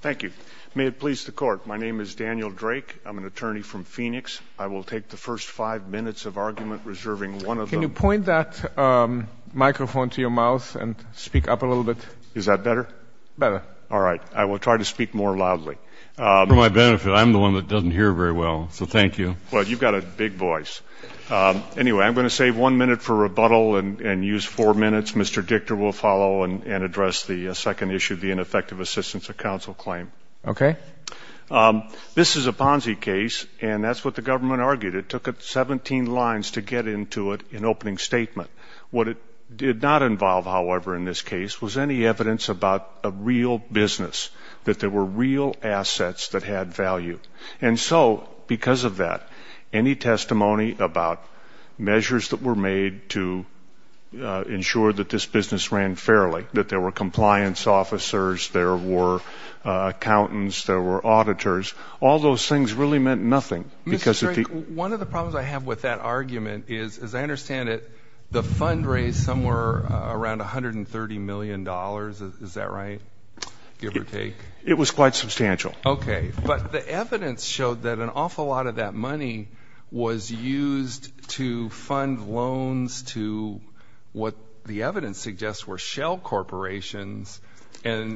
Thank you. May it please the court. My name is Daniel Drake. I'm an attorney from Phoenix. I will take the first five minutes of argument, reserving one of them. Can you point that microphone to your mouth and speak up a little bit? Is that better? Better. All right. I will try to speak more loudly. For my benefit. I'm the one that doesn't hear very well, so thank you. Well, you've got a big voice. Anyway, I'm going to save one minute for rebuttal and use four minutes. Mr. Dichter will follow and address the second issue, the ineffective assistance of counsel claim. Okay. This is a Ponzi case, and that's what the government argued. It took it 17 lines to get into it in opening statement. What it did not involve, however, in this case was any evidence about a real business, that there were real assets that had value. And so because of that, any testimony about measures that were made to ensure that this business ran fairly, that there were compliance officers, there were accountants, there were auditors, all those things really meant nothing. Mr. Drake, one of the problems I have with that argument is, as I understand it, the fund raised somewhere around $130 million. Is that right, give or take? It was quite substantial. Okay. But the evidence showed that an awful lot of that money was used to fund loans to what the evidence suggests were shell corporations,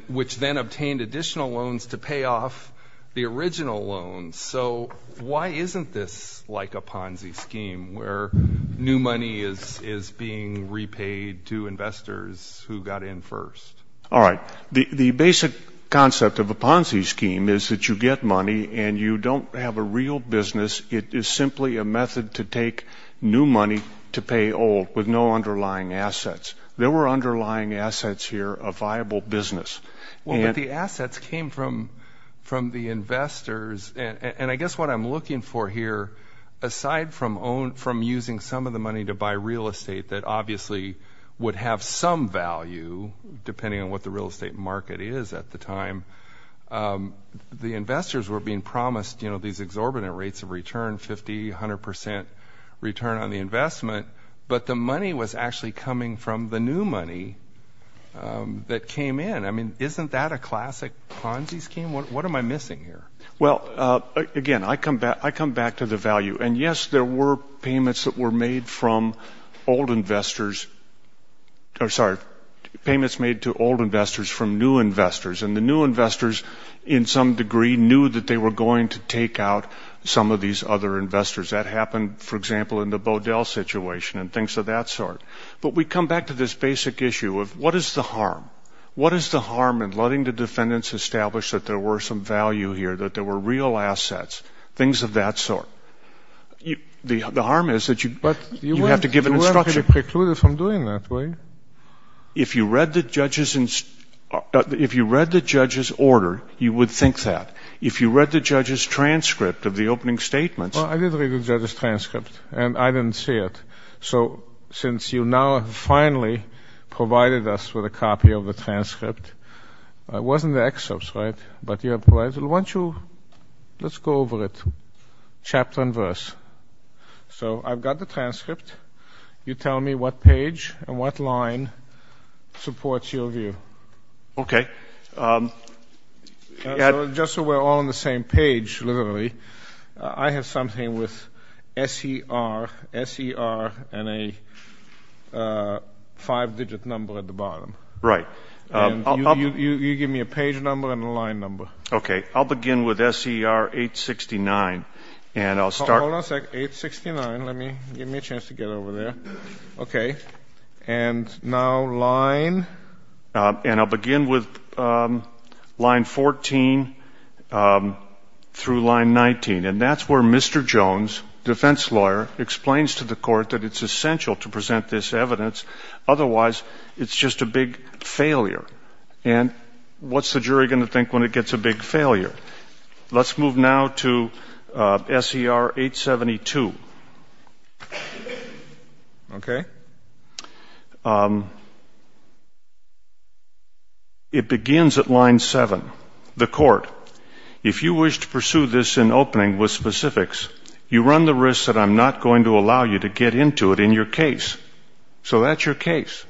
which then obtained additional loans to pay off the original loans. So why isn't this like a Ponzi scheme, where new money is being repaid to investors who got in first? All right. The basic concept of a Ponzi scheme is that you get money and you don't have a real business. It is simply a method to take new money to pay old, with no underlying assets. There were underlying assets here of viable business. Well, but the assets came from the investors. And I guess what I'm looking for here, aside from using some of the money to buy real estate that obviously would have some value, depending on what the real estate market is at the time, the investors were being promised these exorbitant rates of return, 50%, 100% return on the investment. But the money was actually coming from the new money that came in. I mean, isn't that a classic Ponzi scheme? What am I missing here? Well, again, I come back to the value. And, yes, there were payments that were made from old investors or, sorry, payments made to old investors from new investors. And the new investors, in some degree, knew that they were going to take out some of these other investors. That happened, for example, in the Bodell situation and things of that sort. But we come back to this basic issue of what is the harm? What is the harm in letting the defendants establish that there were some value here, that there were real assets, things of that sort? The harm is that you have to give an instruction. But you weren't precluded from doing that, were you? If you read the judge's order, you would think that. If you read the judge's transcript of the opening statements. Well, I did read the judge's transcript, and I didn't see it. So since you now have finally provided us with a copy of the transcript, it wasn't the excerpts, right? But let's go over it chapter and verse. So I've got the transcript. You tell me what page and what line supports your view. Okay. Just so we're all on the same page, literally, I have something with S-E-R and a five-digit number at the bottom. Right. You give me a page number and a line number. Okay. I'll begin with S-E-R 869, and I'll start. Hold on a second. 869. Give me a chance to get over there. Okay. And now line. And I'll begin with line 14 through line 19. And that's where Mr. Jones, defense lawyer, explains to the court that it's essential to present this evidence. Otherwise, it's just a big failure. And what's the jury going to think when it gets a big failure? Let's move now to S-E-R 872. Okay. It begins at line 7. The court. If you wish to pursue this in opening with specifics, you run the risk that I'm not going to allow you to get into it in your case. So that's your case.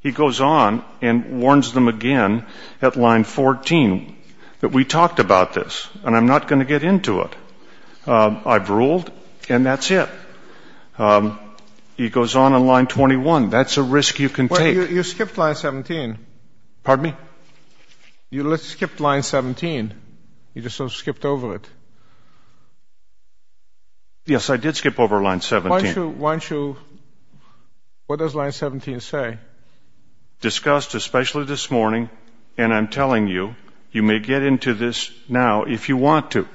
He goes on and warns them again at line 14 that we talked about this and I'm not going to get into it. I've ruled, and that's it. He goes on in line 21. That's a risk you can take. You skipped line 17. Pardon me? You skipped line 17. You just sort of skipped over it. Yes, I did skip over line 17. Why don't you — what does line 17 say? Discussed especially this morning, and I'm telling you, you may get into this now if you want to.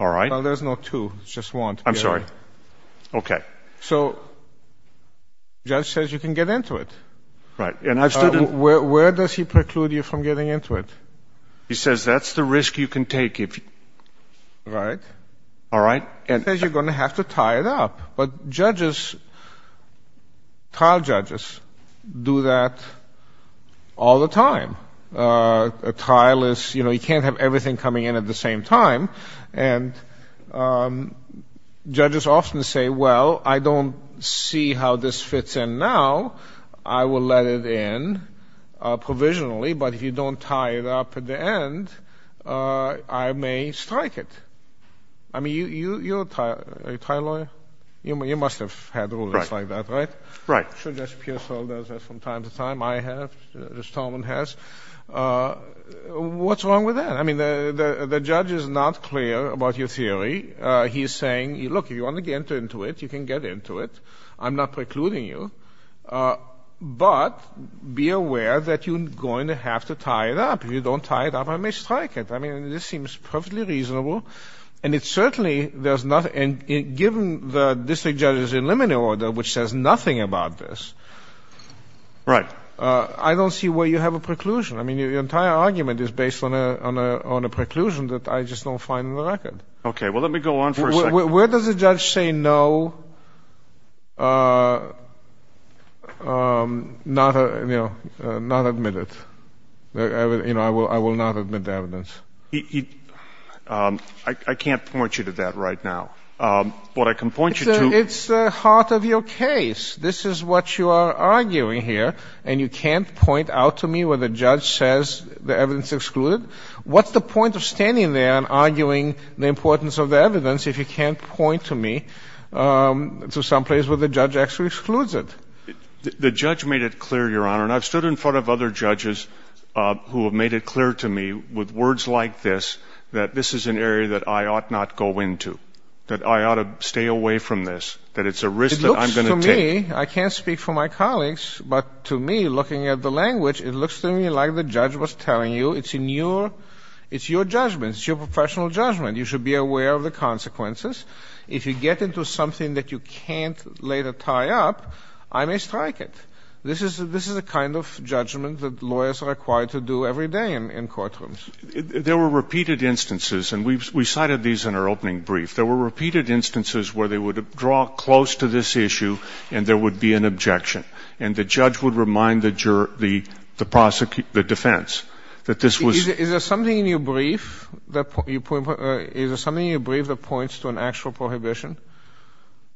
All right? Well, there's no to. It's just want. I'm sorry. Okay. So the judge says you can get into it. Right. Where does he preclude you from getting into it? He says that's the risk you can take if you — Right. All right? He says you're going to have to tie it up, but judges, trial judges, do that all the time. A trial is, you know, you can't have everything coming in at the same time, and judges often say, well, I don't see how this fits in now. I will let it in provisionally, but if you don't tie it up at the end, I may strike it. I mean, you're a trial lawyer. You must have had rules like that, right? Right. I'm sure Judge Pearsall does that from time to time. I have. Judge Tolman has. What's wrong with that? I mean, the judge is not clear about your theory. He's saying, look, if you want to get into it, you can get into it. I'm not precluding you, but be aware that you're going to have to tie it up. If you don't tie it up, I may strike it. I mean, this seems perfectly reasonable, and it certainly does not, and given the district judge's limineal order, which says nothing about this. Right. I don't see where you have a preclusion. I mean, your entire argument is based on a preclusion that I just don't find in the record. Okay. Well, let me go on for a second. Where does a judge say no, not admit it? You know, I will not admit the evidence. I can't point you to that right now. What I can point you to. It's the heart of your case. This is what you are arguing here, and you can't point out to me where the judge says the evidence is excluded? What's the point of standing there and arguing the importance of the evidence if you can't point to me to some place where the judge actually excludes it? The judge made it clear, Your Honor. And I've stood in front of other judges who have made it clear to me with words like this that this is an area that I ought not go into, that I ought to stay away from this, that it's a risk that I'm going to take. It looks to me, I can't speak for my colleagues, but to me, looking at the language, it looks to me like the judge was telling you it's in your ‑‑ it's your judgment. It's your professional judgment. You should be aware of the consequences. If you get into something that you can't later tie up, I may strike it. This is a kind of judgment that lawyers are required to do every day in courtrooms. There were repeated instances, and we cited these in our opening brief. There were repeated instances where they would draw close to this issue and there would be an objection. And the judge would remind the defense that this was ‑‑ Is there something in your brief that points to an actual prohibition?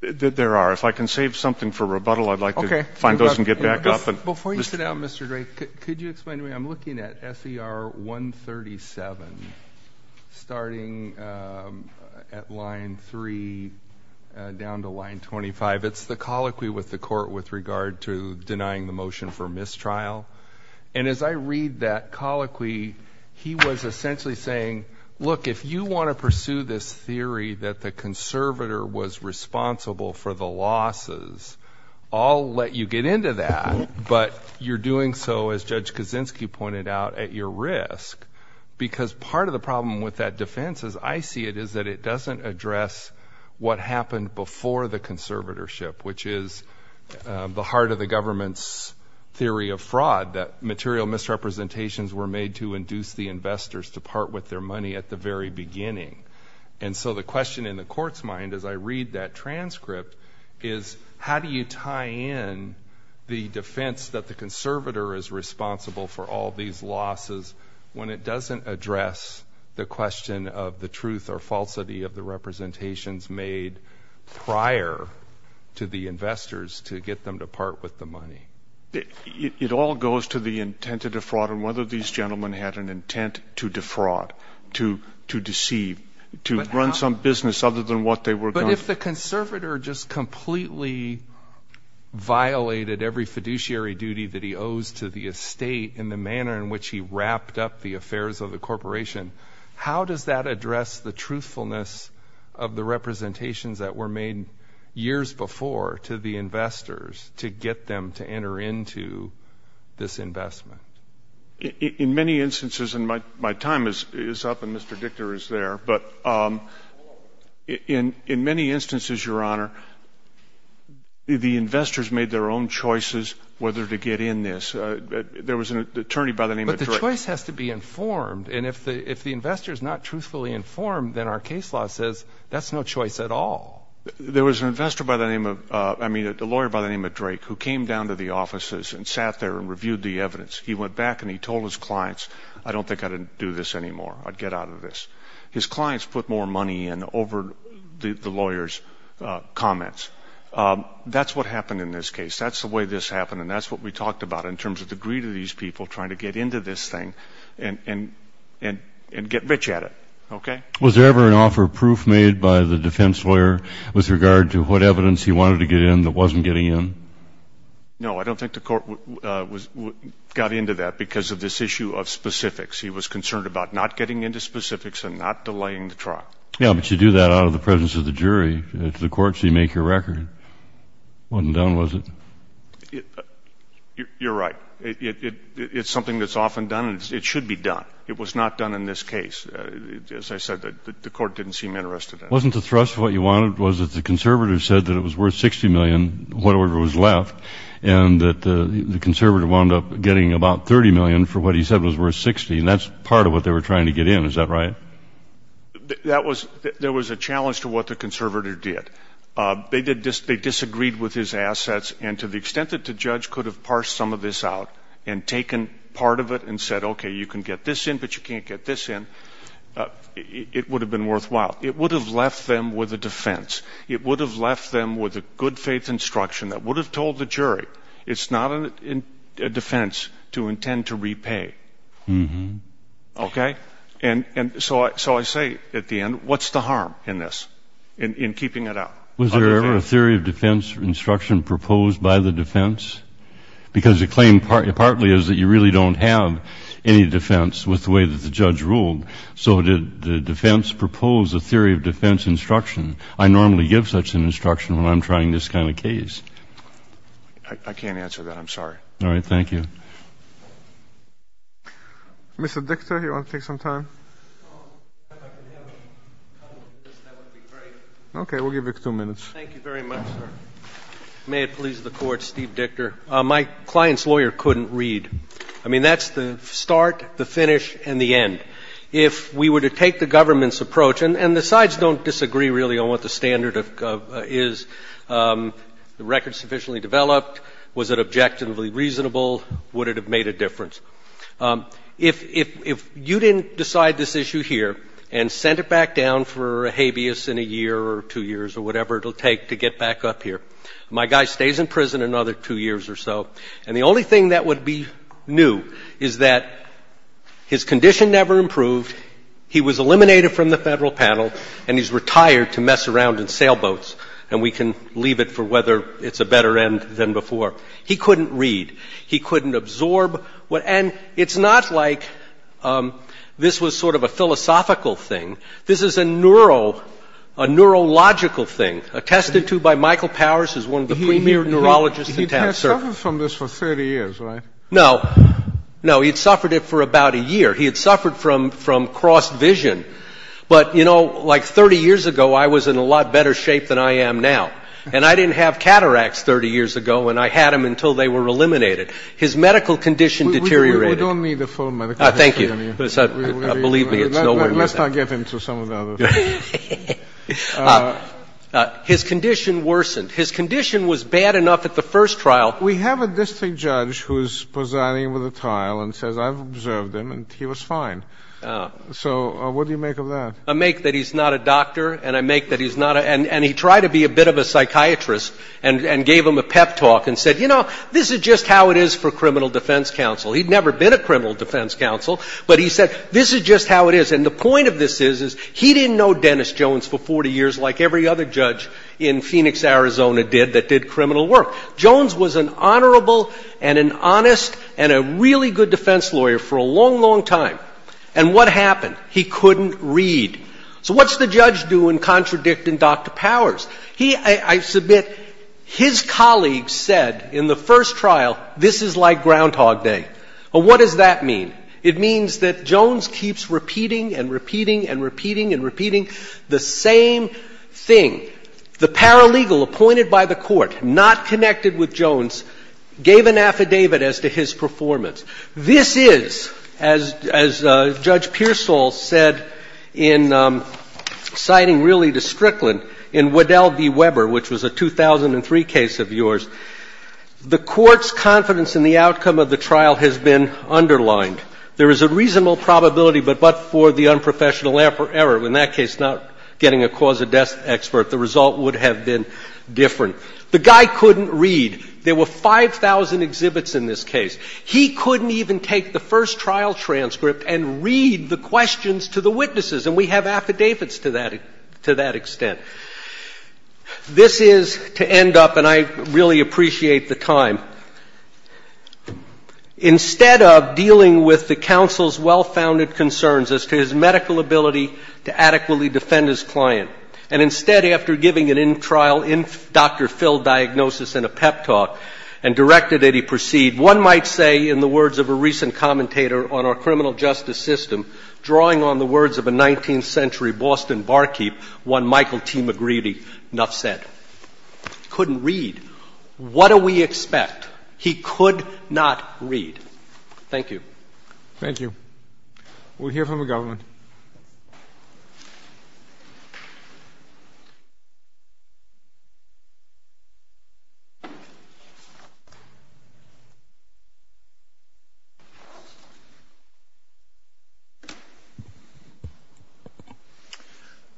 There are. If I can save something for rebuttal, I'd like to find those and get back up. Before you sit down, Mr. Drake, could you explain to me? I'm looking at SER 137, starting at line 3 down to line 25. It's the colloquy with the court with regard to denying the motion for mistrial. And as I read that colloquy, he was essentially saying, look, if you want to pursue this for the losses, I'll let you get into that. But you're doing so, as Judge Kaczynski pointed out, at your risk. Because part of the problem with that defense, as I see it, is that it doesn't address what happened before the conservatorship, which is the heart of the government's theory of fraud, that material misrepresentations were made to induce the investors to part with their money at the very beginning. And so the question in the court's mind, as I read that transcript, is how do you tie in the defense that the conservator is responsible for all these losses when it doesn't address the question of the truth or falsity of the representations made prior to the investors to get them to part with the money? It all goes to the intent to defraud and whether these gentlemen had an intent to defraud, to deceive, to run some business other than what they were going to. But if the conservator just completely violated every fiduciary duty that he owes to the estate in the manner in which he wrapped up the affairs of the corporation, how does that address the truthfulness of the representations that were made years before to the investors to get them to enter into this investment? In many instances, and my time is up and Mr. Dichter is there, but in many instances, Your Honor, the investors made their own choices whether to get in this. There was an attorney by the name of Drake. But the choice has to be informed. And if the investor is not truthfully informed, then our case law says that's no choice at all. There was an investor by the name of – I mean a lawyer by the name of Drake who came down to the offices and sat there and reviewed the evidence. He went back and he told his clients, I don't think I'd do this anymore. I'd get out of this. His clients put more money in over the lawyer's comments. That's what happened in this case. That's the way this happened, and that's what we talked about in terms of the greed of these people trying to get into this thing and get rich at it. Was there ever an offer of proof made by the defense lawyer with regard to what evidence he wanted to get in that wasn't getting in? No, I don't think the court got into that because of this issue of specifics. He was concerned about not getting into specifics and not delaying the trial. Yeah, but you do that out of the presence of the jury. To the court, so you make your record. It wasn't done, was it? You're right. It's something that's often done, and it should be done. It was not done in this case. As I said, the court didn't seem interested in it. Wasn't the thrust of what you wanted was that the conservative said that it was worth $60 million, whatever was left, and that the conservative wound up getting about $30 million for what he said was worth $60, and that's part of what they were trying to get in. Is that right? There was a challenge to what the conservative did. They disagreed with his assets, and to the extent that the judge could have parsed some of this out and taken part of it and said, okay, you can get this in, but you can't get this in, it would have been worthwhile. It would have left them with a defense. It would have left them with a good-faith instruction that would have told the jury, it's not a defense to intend to repay. Okay? And so I say at the end, what's the harm in this, in keeping it out? Was there ever a theory of defense or instruction proposed by the defense? Because the claim partly is that you really don't have any defense with the way that the judge ruled. So did the defense propose a theory of defense instruction? I normally give such an instruction when I'm trying this kind of case. I can't answer that. I'm sorry. All right. Thank you. Mr. Dictor, do you want to take some time? Okay. We'll give you two minutes. Thank you very much, sir. May it please the Court, Steve Dictor. My client's lawyer couldn't read. I mean, that's the start, the finish, and the end. If we were to take the government's approach, and the sides don't disagree really on what the standard is, the record sufficiently developed, was it objectively reasonable, would it have made a difference? If you didn't decide this issue here and sent it back down for a habeas in a year or two years or whatever it will take to get back up here, my guy stays in prison another two years or so, and the only thing that would be new is that his condition never improved, he was eliminated from the Federal panel, and he's retired to mess around in sailboats, and we can leave it for whether it's a better end than before. He couldn't read. He couldn't absorb. And it's not like this was sort of a philosophical thing. This is a neurological thing, attested to by Michael Powers, who's one of the premier neurologists in town. He had suffered from this for 30 years, right? No. No, he'd suffered it for about a year. He had suffered from cross-vision. But, you know, like 30 years ago, I was in a lot better shape than I am now. And I didn't have cataracts 30 years ago, and I had them until they were eliminated. His medical condition deteriorated. We don't need the full medical history on you. Thank you. Believe me, it's nowhere near that. Let's not get into some of the other things. His condition worsened. His condition was bad enough at the first trial. We have a district judge who's presiding over the trial and says, I've observed him, and he was fine. So what do you make of that? I make that he's not a doctor, and I make that he's not a ñ and he tried to be a bit of a psychiatrist and gave him a pep talk and said, you know, this is just how it is for criminal defense counsel. He'd never been a criminal defense counsel, but he said, this is just how it is. And the point of this is, is he didn't know Dennis Jones for 40 years like every other judge in Phoenix, Arizona did, that did criminal work. Jones was an honorable and an honest and a really good defense lawyer for a long, long time. And what happened? He couldn't read. So what's the judge doing contradicting Dr. Powers? He, I submit, his colleagues said in the first trial, this is like Groundhog Day. Well, what does that mean? It means that Jones keeps repeating and repeating and repeating and repeating the same thing. The paralegal appointed by the Court, not connected with Jones, gave an affidavit as to his performance. This is, as Judge Pearsall said in citing really to Strickland in Waddell v. Weber, which was a 2003 case of yours, the Court's confidence in the outcome of the trial has been underlined. There is a reasonable probability, but for the unprofessional error, in that case not getting a cause of death expert, the result would have been different. The guy couldn't read. There were 5,000 exhibits in this case. He couldn't even take the first trial transcript and read the questions to the witnesses, and we have affidavits to that extent. This is to end up, and I really appreciate the time, instead of dealing with the counsel's well-founded concerns as to his medical ability to adequately defend his client, and instead, after giving an in-trial, doctor-filled diagnosis and a pep talk and directed that he proceed, one might say, in the words of a recent commentator on our criminal justice system, drawing on the words of a 19th century Boston barkeep, one Michael T. McGreedy Nuff said. He couldn't read. What do we expect? He could not read. Thank you. Thank you. We'll hear from the government.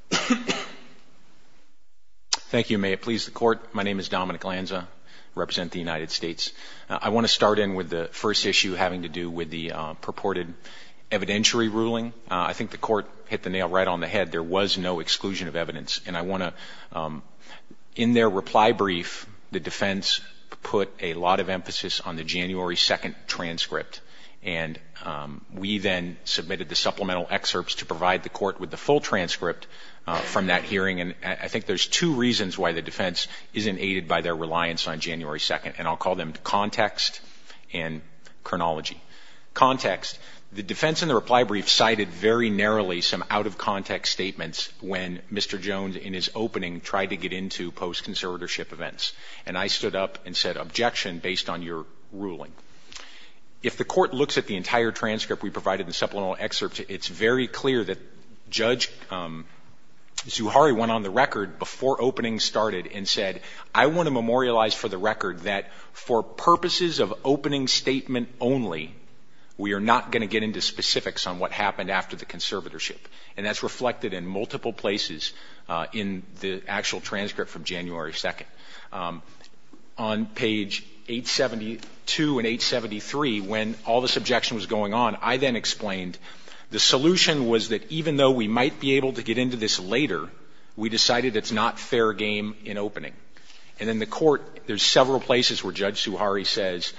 Thank you. Thank you. May it please the Court. My name is Dominic Lanza. I represent the United States. I want to start in with the first issue having to do with the purported evidentiary ruling. I think the Court hit the nail right on the head. There was no exclusion of evidence, and I want to, in their reply brief, the defense put a lot of emphasis on the January 2 transcript, and we then submitted the supplemental excerpts to provide the Court with the full transcript from that hearing, and I think there's two reasons why the defense isn't aided by their reliance on January 2, and I'll call them context and chronology. Context. The defense in the reply brief cited very narrowly some out-of-context statements when Mr. Jones, in his opening, tried to get into post-conservatorship events, and I stood up and said, Objection, based on your ruling. If the Court looks at the entire transcript we provided in the supplemental excerpts, it's very clear that Judge Zuhari went on the record before opening started and said, I want to memorialize for the record that for purposes of opening statement only, we are not going to get into specifics on what happened after the conservatorship, and that's reflected in multiple places in the actual transcript from January 2. On page 872 and 873, when all this objection was going on, I then explained, the solution was that even though we might be able to get into this later, we decided it's not fair game in opening. And then the Court, there's several places where Judge Zuhari says,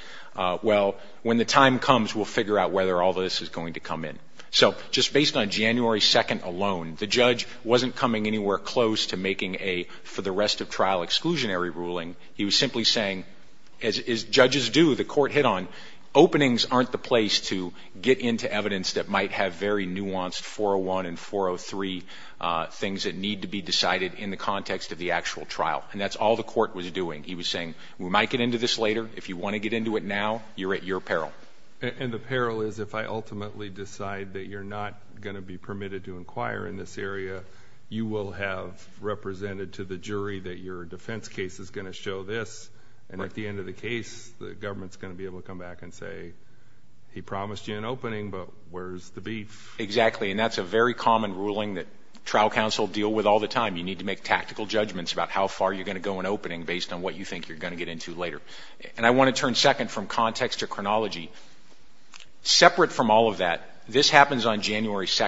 well, when the time comes, we'll figure out whether all this is going to come in. So just based on January 2 alone, the judge wasn't coming anywhere close to making a for-the-rest-of-trial exclusionary ruling. He was simply saying, as judges do, the Court hit on, openings aren't the place to get into evidence that might have very nuanced 401 and 403 things that need to be decided in the context of the actual trial. And that's all the Court was doing. He was saying, we might get into this later. If you want to get into it now, you're at your peril. And the peril is if I ultimately decide that you're not going to be permitted to inquire in this area, you will have represented to the jury that your defense case is going to show this, and at the end of the case, the government's going to be able to come back and say, he promised you an opening, but where's the beef? Exactly. And that's a very common ruling that trial counsel deal with all the time. You need to make tactical judgments about how far you're going to go in opening based on what you think you're going to get into later. And I want to turn second from context to chronology. Separate from all of that, this happens on January 2.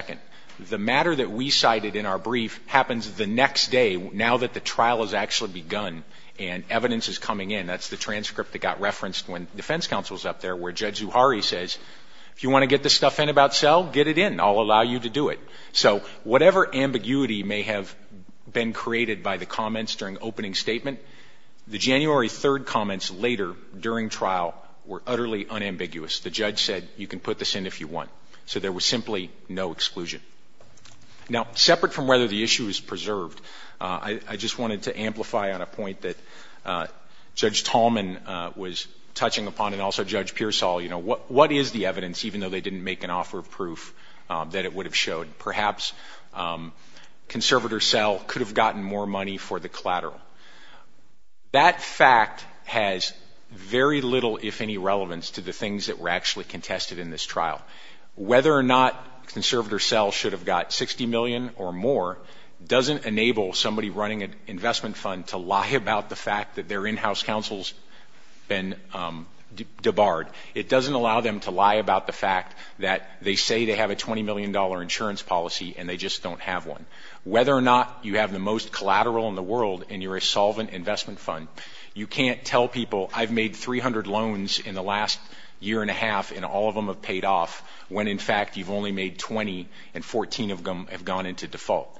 The matter that we cited in our brief happens the next day, now that the trial has actually begun and evidence is coming in. That's the transcript that got referenced when defense counsel is up there, where Judge Zuhari says, if you want to get this stuff in about Sel, get it in. I'll allow you to do it. So whatever ambiguity may have been created by the comments during opening statement, the January 3 comments later during trial were utterly unambiguous. The judge said, you can put this in if you want. So there was simply no exclusion. Now, separate from whether the issue is preserved, I just wanted to amplify on a point that Judge Tallman was touching upon and also Judge Pearsall, you know, what is the evidence, even though they didn't make an offer of proof, that it would have showed. Perhaps conservator Sel could have gotten more money for the collateral. That fact has very little, if any, relevance to the things that were actually contested in this trial. Whether or not conservator Sel should have got $60 million or more doesn't enable somebody running an investment fund to lie about the fact that their in-house counsel has been debarred. It doesn't allow them to lie about the fact that they say they have a $20 million insurance policy and they just don't have one. Whether or not you have the most collateral in the world and you're a solvent investment fund, you can't tell people I've made 300 loans in the last year and a half and all of them have paid off when, in fact, you've only made 20 and 14 of them have gone into default.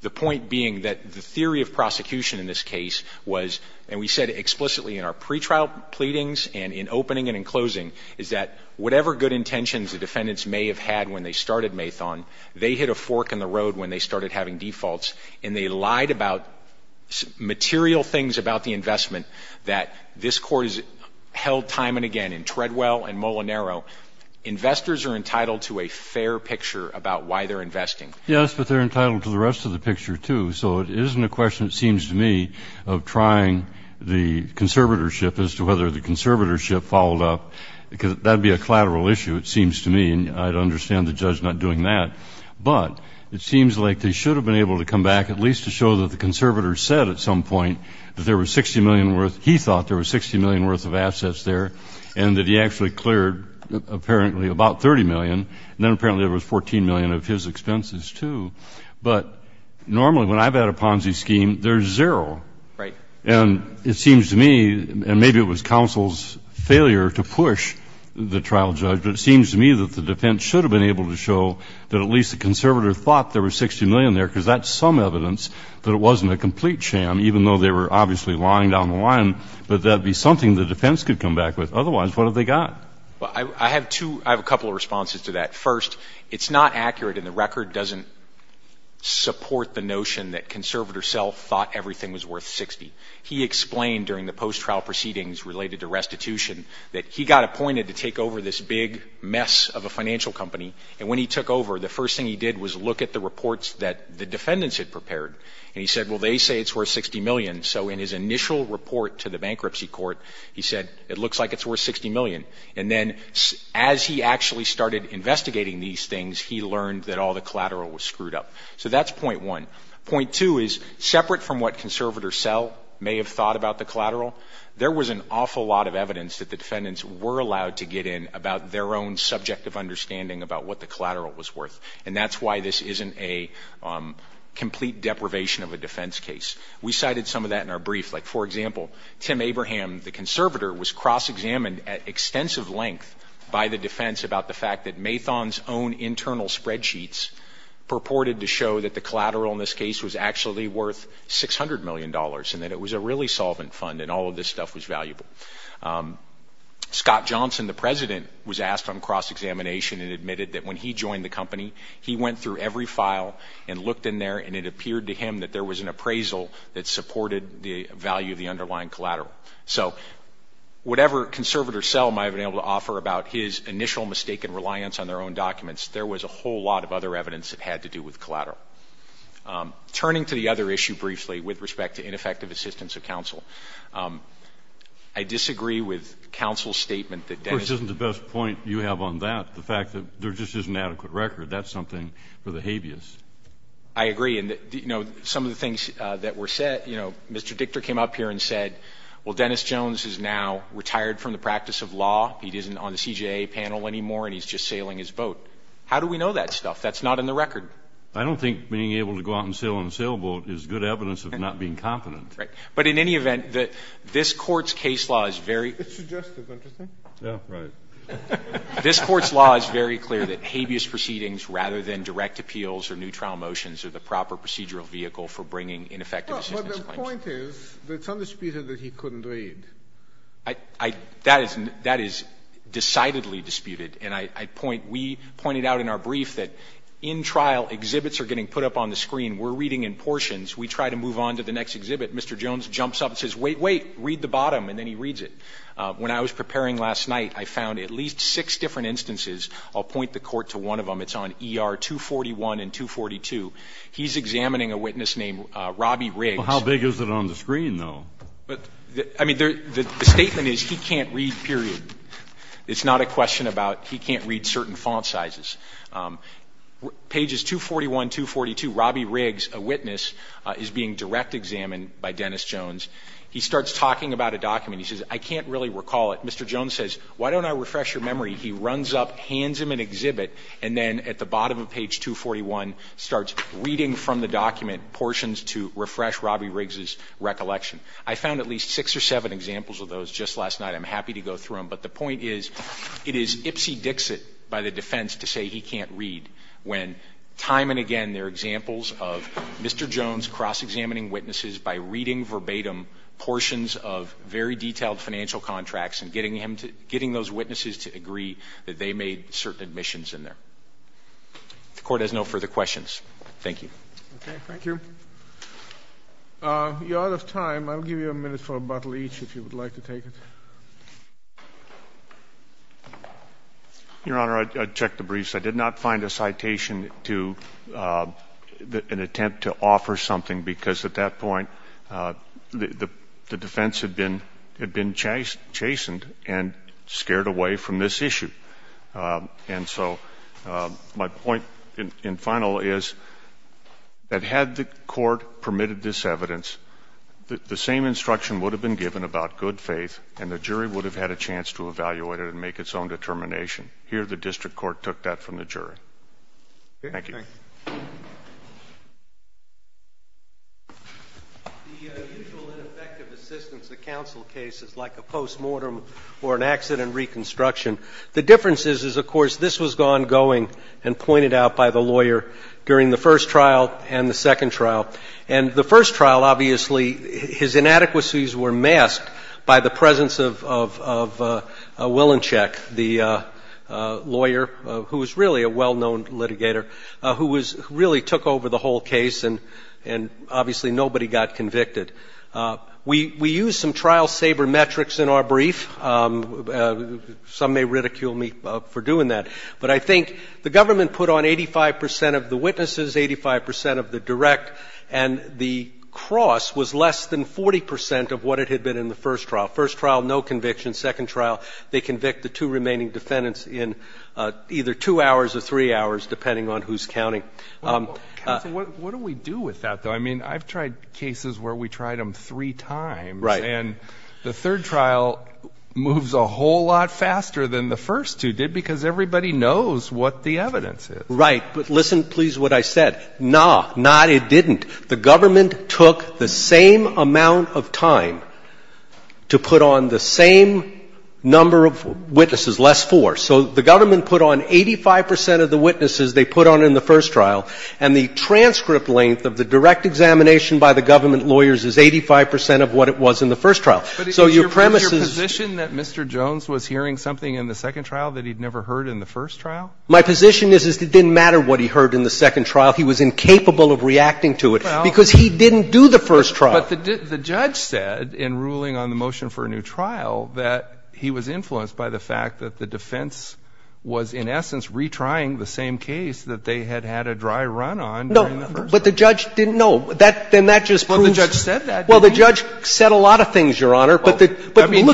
The point being that the theory of prosecution in this case was, and we said explicitly in our pretrial pleadings and in opening and in closing, is that whatever good intentions the defendants may have had when they started Maython, they hit a fork in the road when they started having defaults and they lied about material things about the investment that this Court has held time and again in Treadwell and Molinaro. Investors are entitled to a fair picture about why they're investing. Yes, but they're entitled to the rest of the picture, too. So it isn't a question, it seems to me, of trying the conservatorship as to whether the conservatorship followed up, because that would be a collateral issue, it seems to me, and I'd understand the judge not doing that. But it seems like they should have been able to come back at least to show that the conservators said at some point that there was $60 million worth, he thought there was $60 million worth of assets there and that he actually cleared apparently about $30 million and then apparently there was $14 million of his expenses, too. But normally when I've had a Ponzi scheme, there's zero. Right. And it seems to me, and maybe it was counsel's failure to push the trial judge, but it seems to me that the defense should have been able to show that at least the conservator thought there was $60 million there, because that's some evidence that it wasn't a complete sham, even though they were obviously lying down the line, but that would be something the defense could come back with. Otherwise, what have they got? I have two, I have a couple of responses to that. First, it's not accurate and the record doesn't support the notion that conservator Sell thought everything was worth $60. He explained during the post-trial proceedings related to restitution that he got appointed to take over this big mess of a financial company and when he took over, the first thing he did was look at the reports that the defendants had prepared and he said, well, they say it's worth $60 million. So in his initial report to the bankruptcy court, he said, it looks like it's worth $60 million. And then as he actually started investigating these things, he learned that all the collateral was screwed up. So that's point one. Point two is, separate from what conservator Sell may have thought about the collateral, there was an awful lot of evidence that the defendants were allowed to get in about their own subjective understanding about what the collateral was worth. And that's why this isn't a complete deprivation of a defense case. We cited some of that in our brief. Like, for example, Tim Abraham, the conservator, was cross-examined at extensive length by the defense about the fact that Maython's own internal spreadsheets purported to show that the collateral in this case was actually worth $600 million and that it was a really solvent fund and all of this stuff was valuable. Scott Johnson, the president, was asked on cross-examination and admitted that when he joined the company, he went through every file and looked in there and it appeared to him that there was an appraisal that supported the value of the underlying collateral. So whatever conservator Sell might have been able to offer about his initial mistaken reliance on their own documents, there was a whole lot of other evidence that had to do with collateral. Turning to the other issue briefly with respect to ineffective assistance of counsel, I disagree with counsel's statement that Dennis — Of course, this isn't the best point you have on that, the fact that there just isn't adequate record. That's something for the habeas. I agree. And some of the things that were said — Mr. Dichter came up here and said, well, Dennis Jones is now retired from the practice of law. He isn't on the CJA panel anymore and he's just sailing his boat. How do we know that stuff? That's not in the record. I don't think being able to go out and sail on a sailboat is good evidence of not being competent. Right. But in any event, this Court's case law is very — It's suggestive, isn't it? Yeah, right. This Court's law is very clear that habeas proceedings rather than direct appeals or new trial motions are the proper procedural vehicle for bringing ineffective assistance claims. No, but the point is that it's undisputed that he couldn't read. I — that is — that is decidedly disputed. And I point — we pointed out in our brief that in trial, exhibits are getting put up on the screen. We're reading in portions. We try to move on to the next exhibit. Mr. Jones jumps up and says, wait, wait, read the bottom, and then he reads it. When I was preparing last night, I found at least six different instances. I'll point the Court to one of them. It's on ER 241 and 242. He's examining a witness named Robbie Riggs. Well, how big is it on the screen, though? I mean, the statement is he can't read, period. It's not a question about he can't read certain font sizes. Pages 241, 242, Robbie Riggs, a witness, is being direct examined by Dennis Jones. He starts talking about a document. He says, I can't really recall it. Mr. Jones says, why don't I refresh your memory? He runs up, hands him an exhibit, and then at the bottom of page 241 starts reading from the document portions to refresh Robbie Riggs' recollection. I found at least six or seven examples of those just last night. I'm happy to go through them. But the point is, it is ipsy-dixit by the defense to say he can't read when time and again there are examples of Mr. Jones cross-examining witnesses by reading verbatim portions of very detailed financial contracts and getting him to – getting those witnesses to agree that they made certain admissions in there. The Court has no further questions. Thank you. Okay. Thank you. You're out of time. I'll give you a minute for a bottle each if you would like to take it. Your Honor, I checked the briefs. I did not find a citation to – an attempt to offer something because at that point the defense had been chastened and scared away from this issue. And so my point in final is that had the Court permitted this evidence, the same instruction would have been given about good faith and the jury would have had a chance to evaluate it and make its own determination. Here the district court took that from the jury. Thank you. Thank you. The usual ineffective assistance to counsel cases like a post-mortem or an accident reconstruction, the difference is, of course, this was ongoing and pointed out by the lawyer during the first trial and the second trial. And the first trial, obviously, his inadequacies were masked by the presence of Willinchek, the lawyer who was really a well-known litigator, who really took over the whole case, and obviously nobody got convicted. We used some trial-saver metrics in our brief. Some may ridicule me for doing that, but I think the government put on 85 percent of the witnesses, 85 percent of the direct, and the cross was less than 40 percent of what it had been in the first trial. First trial, no conviction. Second trial, they convict the two remaining defendants in either two hours or three hours, depending on who's counting. Counsel, what do we do with that, though? I mean, I've tried cases where we tried them three times. Right. And the third trial moves a whole lot faster than the first two did because everybody knows what the evidence is. Right. But listen, please, to what I said. No, no, it didn't. The government took the same amount of time to put on the same number of witnesses, less four. So the government put on 85 percent of the witnesses they put on in the first trial, and the transcript length of the direct examination by the government lawyers is 85 percent of what it was in the first trial. But is your position that Mr. Jones was hearing something in the second trial that he'd never heard in the first trial? My position is it didn't matter what he heard in the second trial. He was incapable of reacting to it because he didn't do the first trial. But the judge said in ruling on the motion for a new trial that he was influenced by the fact that the defense was in essence retrying the same case that they had had a dry run on during the first trial. No, but the judge didn't know. Then that just proves. Well, the judge said that. Well, the judge said a lot of things, Your Honor. But look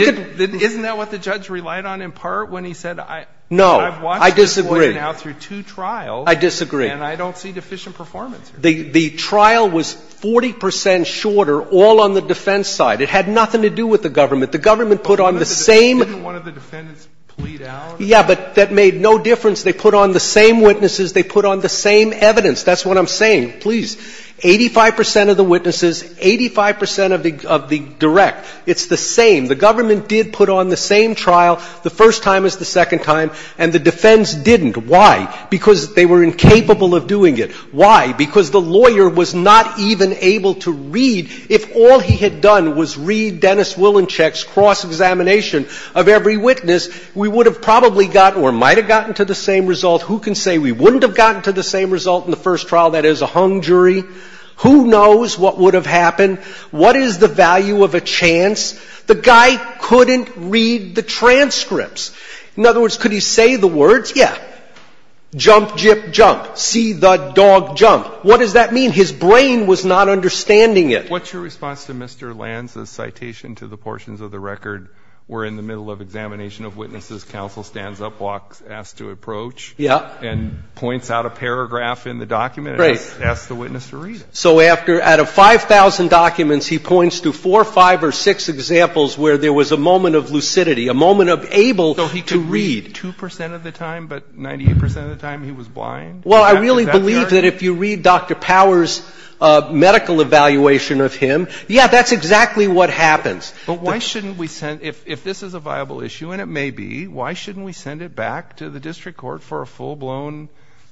at. Isn't that what the judge relied on in part when he said I've watched this lawyer now through two trials. I disagree. And I don't see deficient performance here. The trial was 40 percent shorter all on the defense side. It had nothing to do with the government. The government put on the same. Didn't one of the defendants plead out? Yeah, but that made no difference. They put on the same witnesses. They put on the same evidence. That's what I'm saying. Please. Eighty-five percent of the witnesses, 85 percent of the direct. It's the same. The government did put on the same trial the first time as the second time, and the defense didn't. Why? Because they were incapable of doing it. Why? Because the lawyer was not even able to read. If all he had done was read Dennis Willinchek's cross-examination of every witness, we would have probably gotten or might have gotten to the same result. Who can say we wouldn't have gotten to the same result in the first trial? That is a hung jury. Who knows what would have happened? What is the value of a chance? The guy couldn't read the transcripts. In other words, could he say the words? Yeah. Jump, jip, jump. See the dog jump. What does that mean? His brain was not understanding it. What's your response to Mr. Lanz's citation to the portions of the record where in the middle of examination of witnesses, counsel stands up, walks, asks to approach. Yeah. And points out a paragraph in the document. Right. And asks the witness to read it. So after, out of 5,000 documents, he points to four, five, or six examples where there was a moment of lucidity, a moment of able to read. So he could read 2 percent of the time, but 98 percent of the time he was blind? Well, I really believe that if you read Dr. Powers' medical evaluation of him, yeah, that's exactly what happens. But why shouldn't we send, if this is a viable issue, and it may be, why shouldn't we send it back to the district court for a full-blown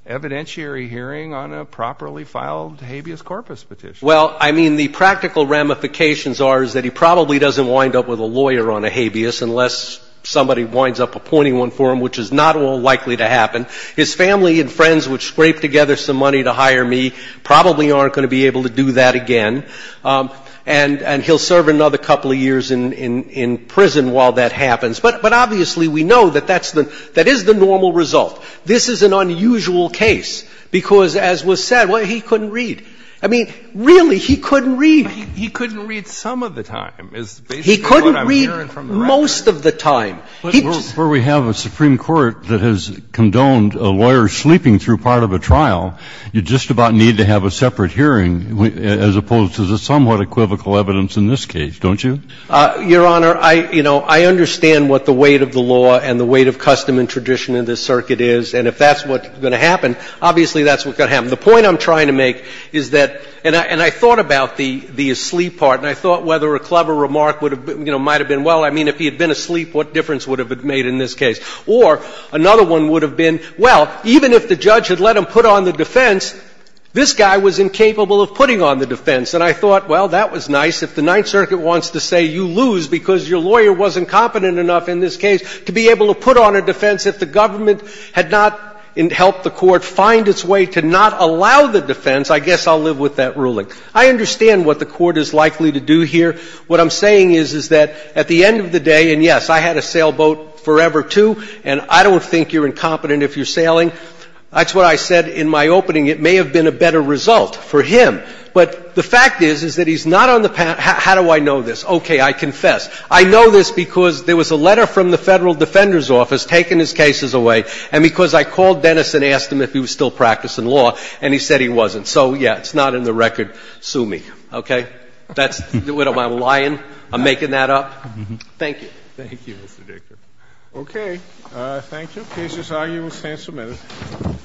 evidentiary hearing on a properly filed habeas corpus petition? Well, I mean, the practical ramifications are that he probably doesn't wind up with a lawyer on a habeas unless somebody winds up appointing one for him, which is not at all likely to happen. His family and friends would scrape together some money to hire me, probably aren't going to be able to do that again, and he'll serve another couple of years in prison while that happens. But obviously we know that that is the normal result. This is an unusual case because, as was said, he couldn't read. I mean, really, he couldn't read. He couldn't read some of the time. He couldn't read most of the time. Kennedy But, before we have a Supreme Court that has condoned a lawyer sleeping through part of a trial, you just about need to have a separate hearing as opposed to the somewhat equivocal evidence in this case, don't you? Your Honor, I, you know, I understand what the weight of the law and the weight of custom and tradition in this circuit is, and if that's what's going to happen, obviously that's what's going to happen. The point I'm trying to make is that, and I thought about the asleep part, and I thought whether a clever remark would have, you know, might have been, well, I mean, if he had been asleep, what difference would have it made in this case? Or, another one would have been, well, even if the judge had let him put on the defense, this guy was incapable of putting on the defense. And I thought, well, that was nice. If the Ninth Circuit wants to say you lose because your lawyer wasn't competent enough in this case to be able to put on a defense, if the government had not helped the court find its way to not allow the defense, I guess I'll live with that ruling. I understand what the court is likely to do here. What I'm saying is, is that at the end of the day, and, yes, I had a sailboat forever, too, and I don't think you're incompetent if you're sailing. That's what I said in my opening. It may have been a better result for him. But the fact is, is that he's not on the panel. How do I know this? Okay, I confess. I know this because there was a letter from the Federal Defender's Office taking his cases away, and because I called Dennis and asked him if he was still practicing law, and he said he wasn't. So, yeah, it's not in the record. Sue me. Okay? Am I lying? I'm making that up? Thank you. Thank you, Mr. Dictor. Okay. Thank you. The case is argued. We'll stand for a minute.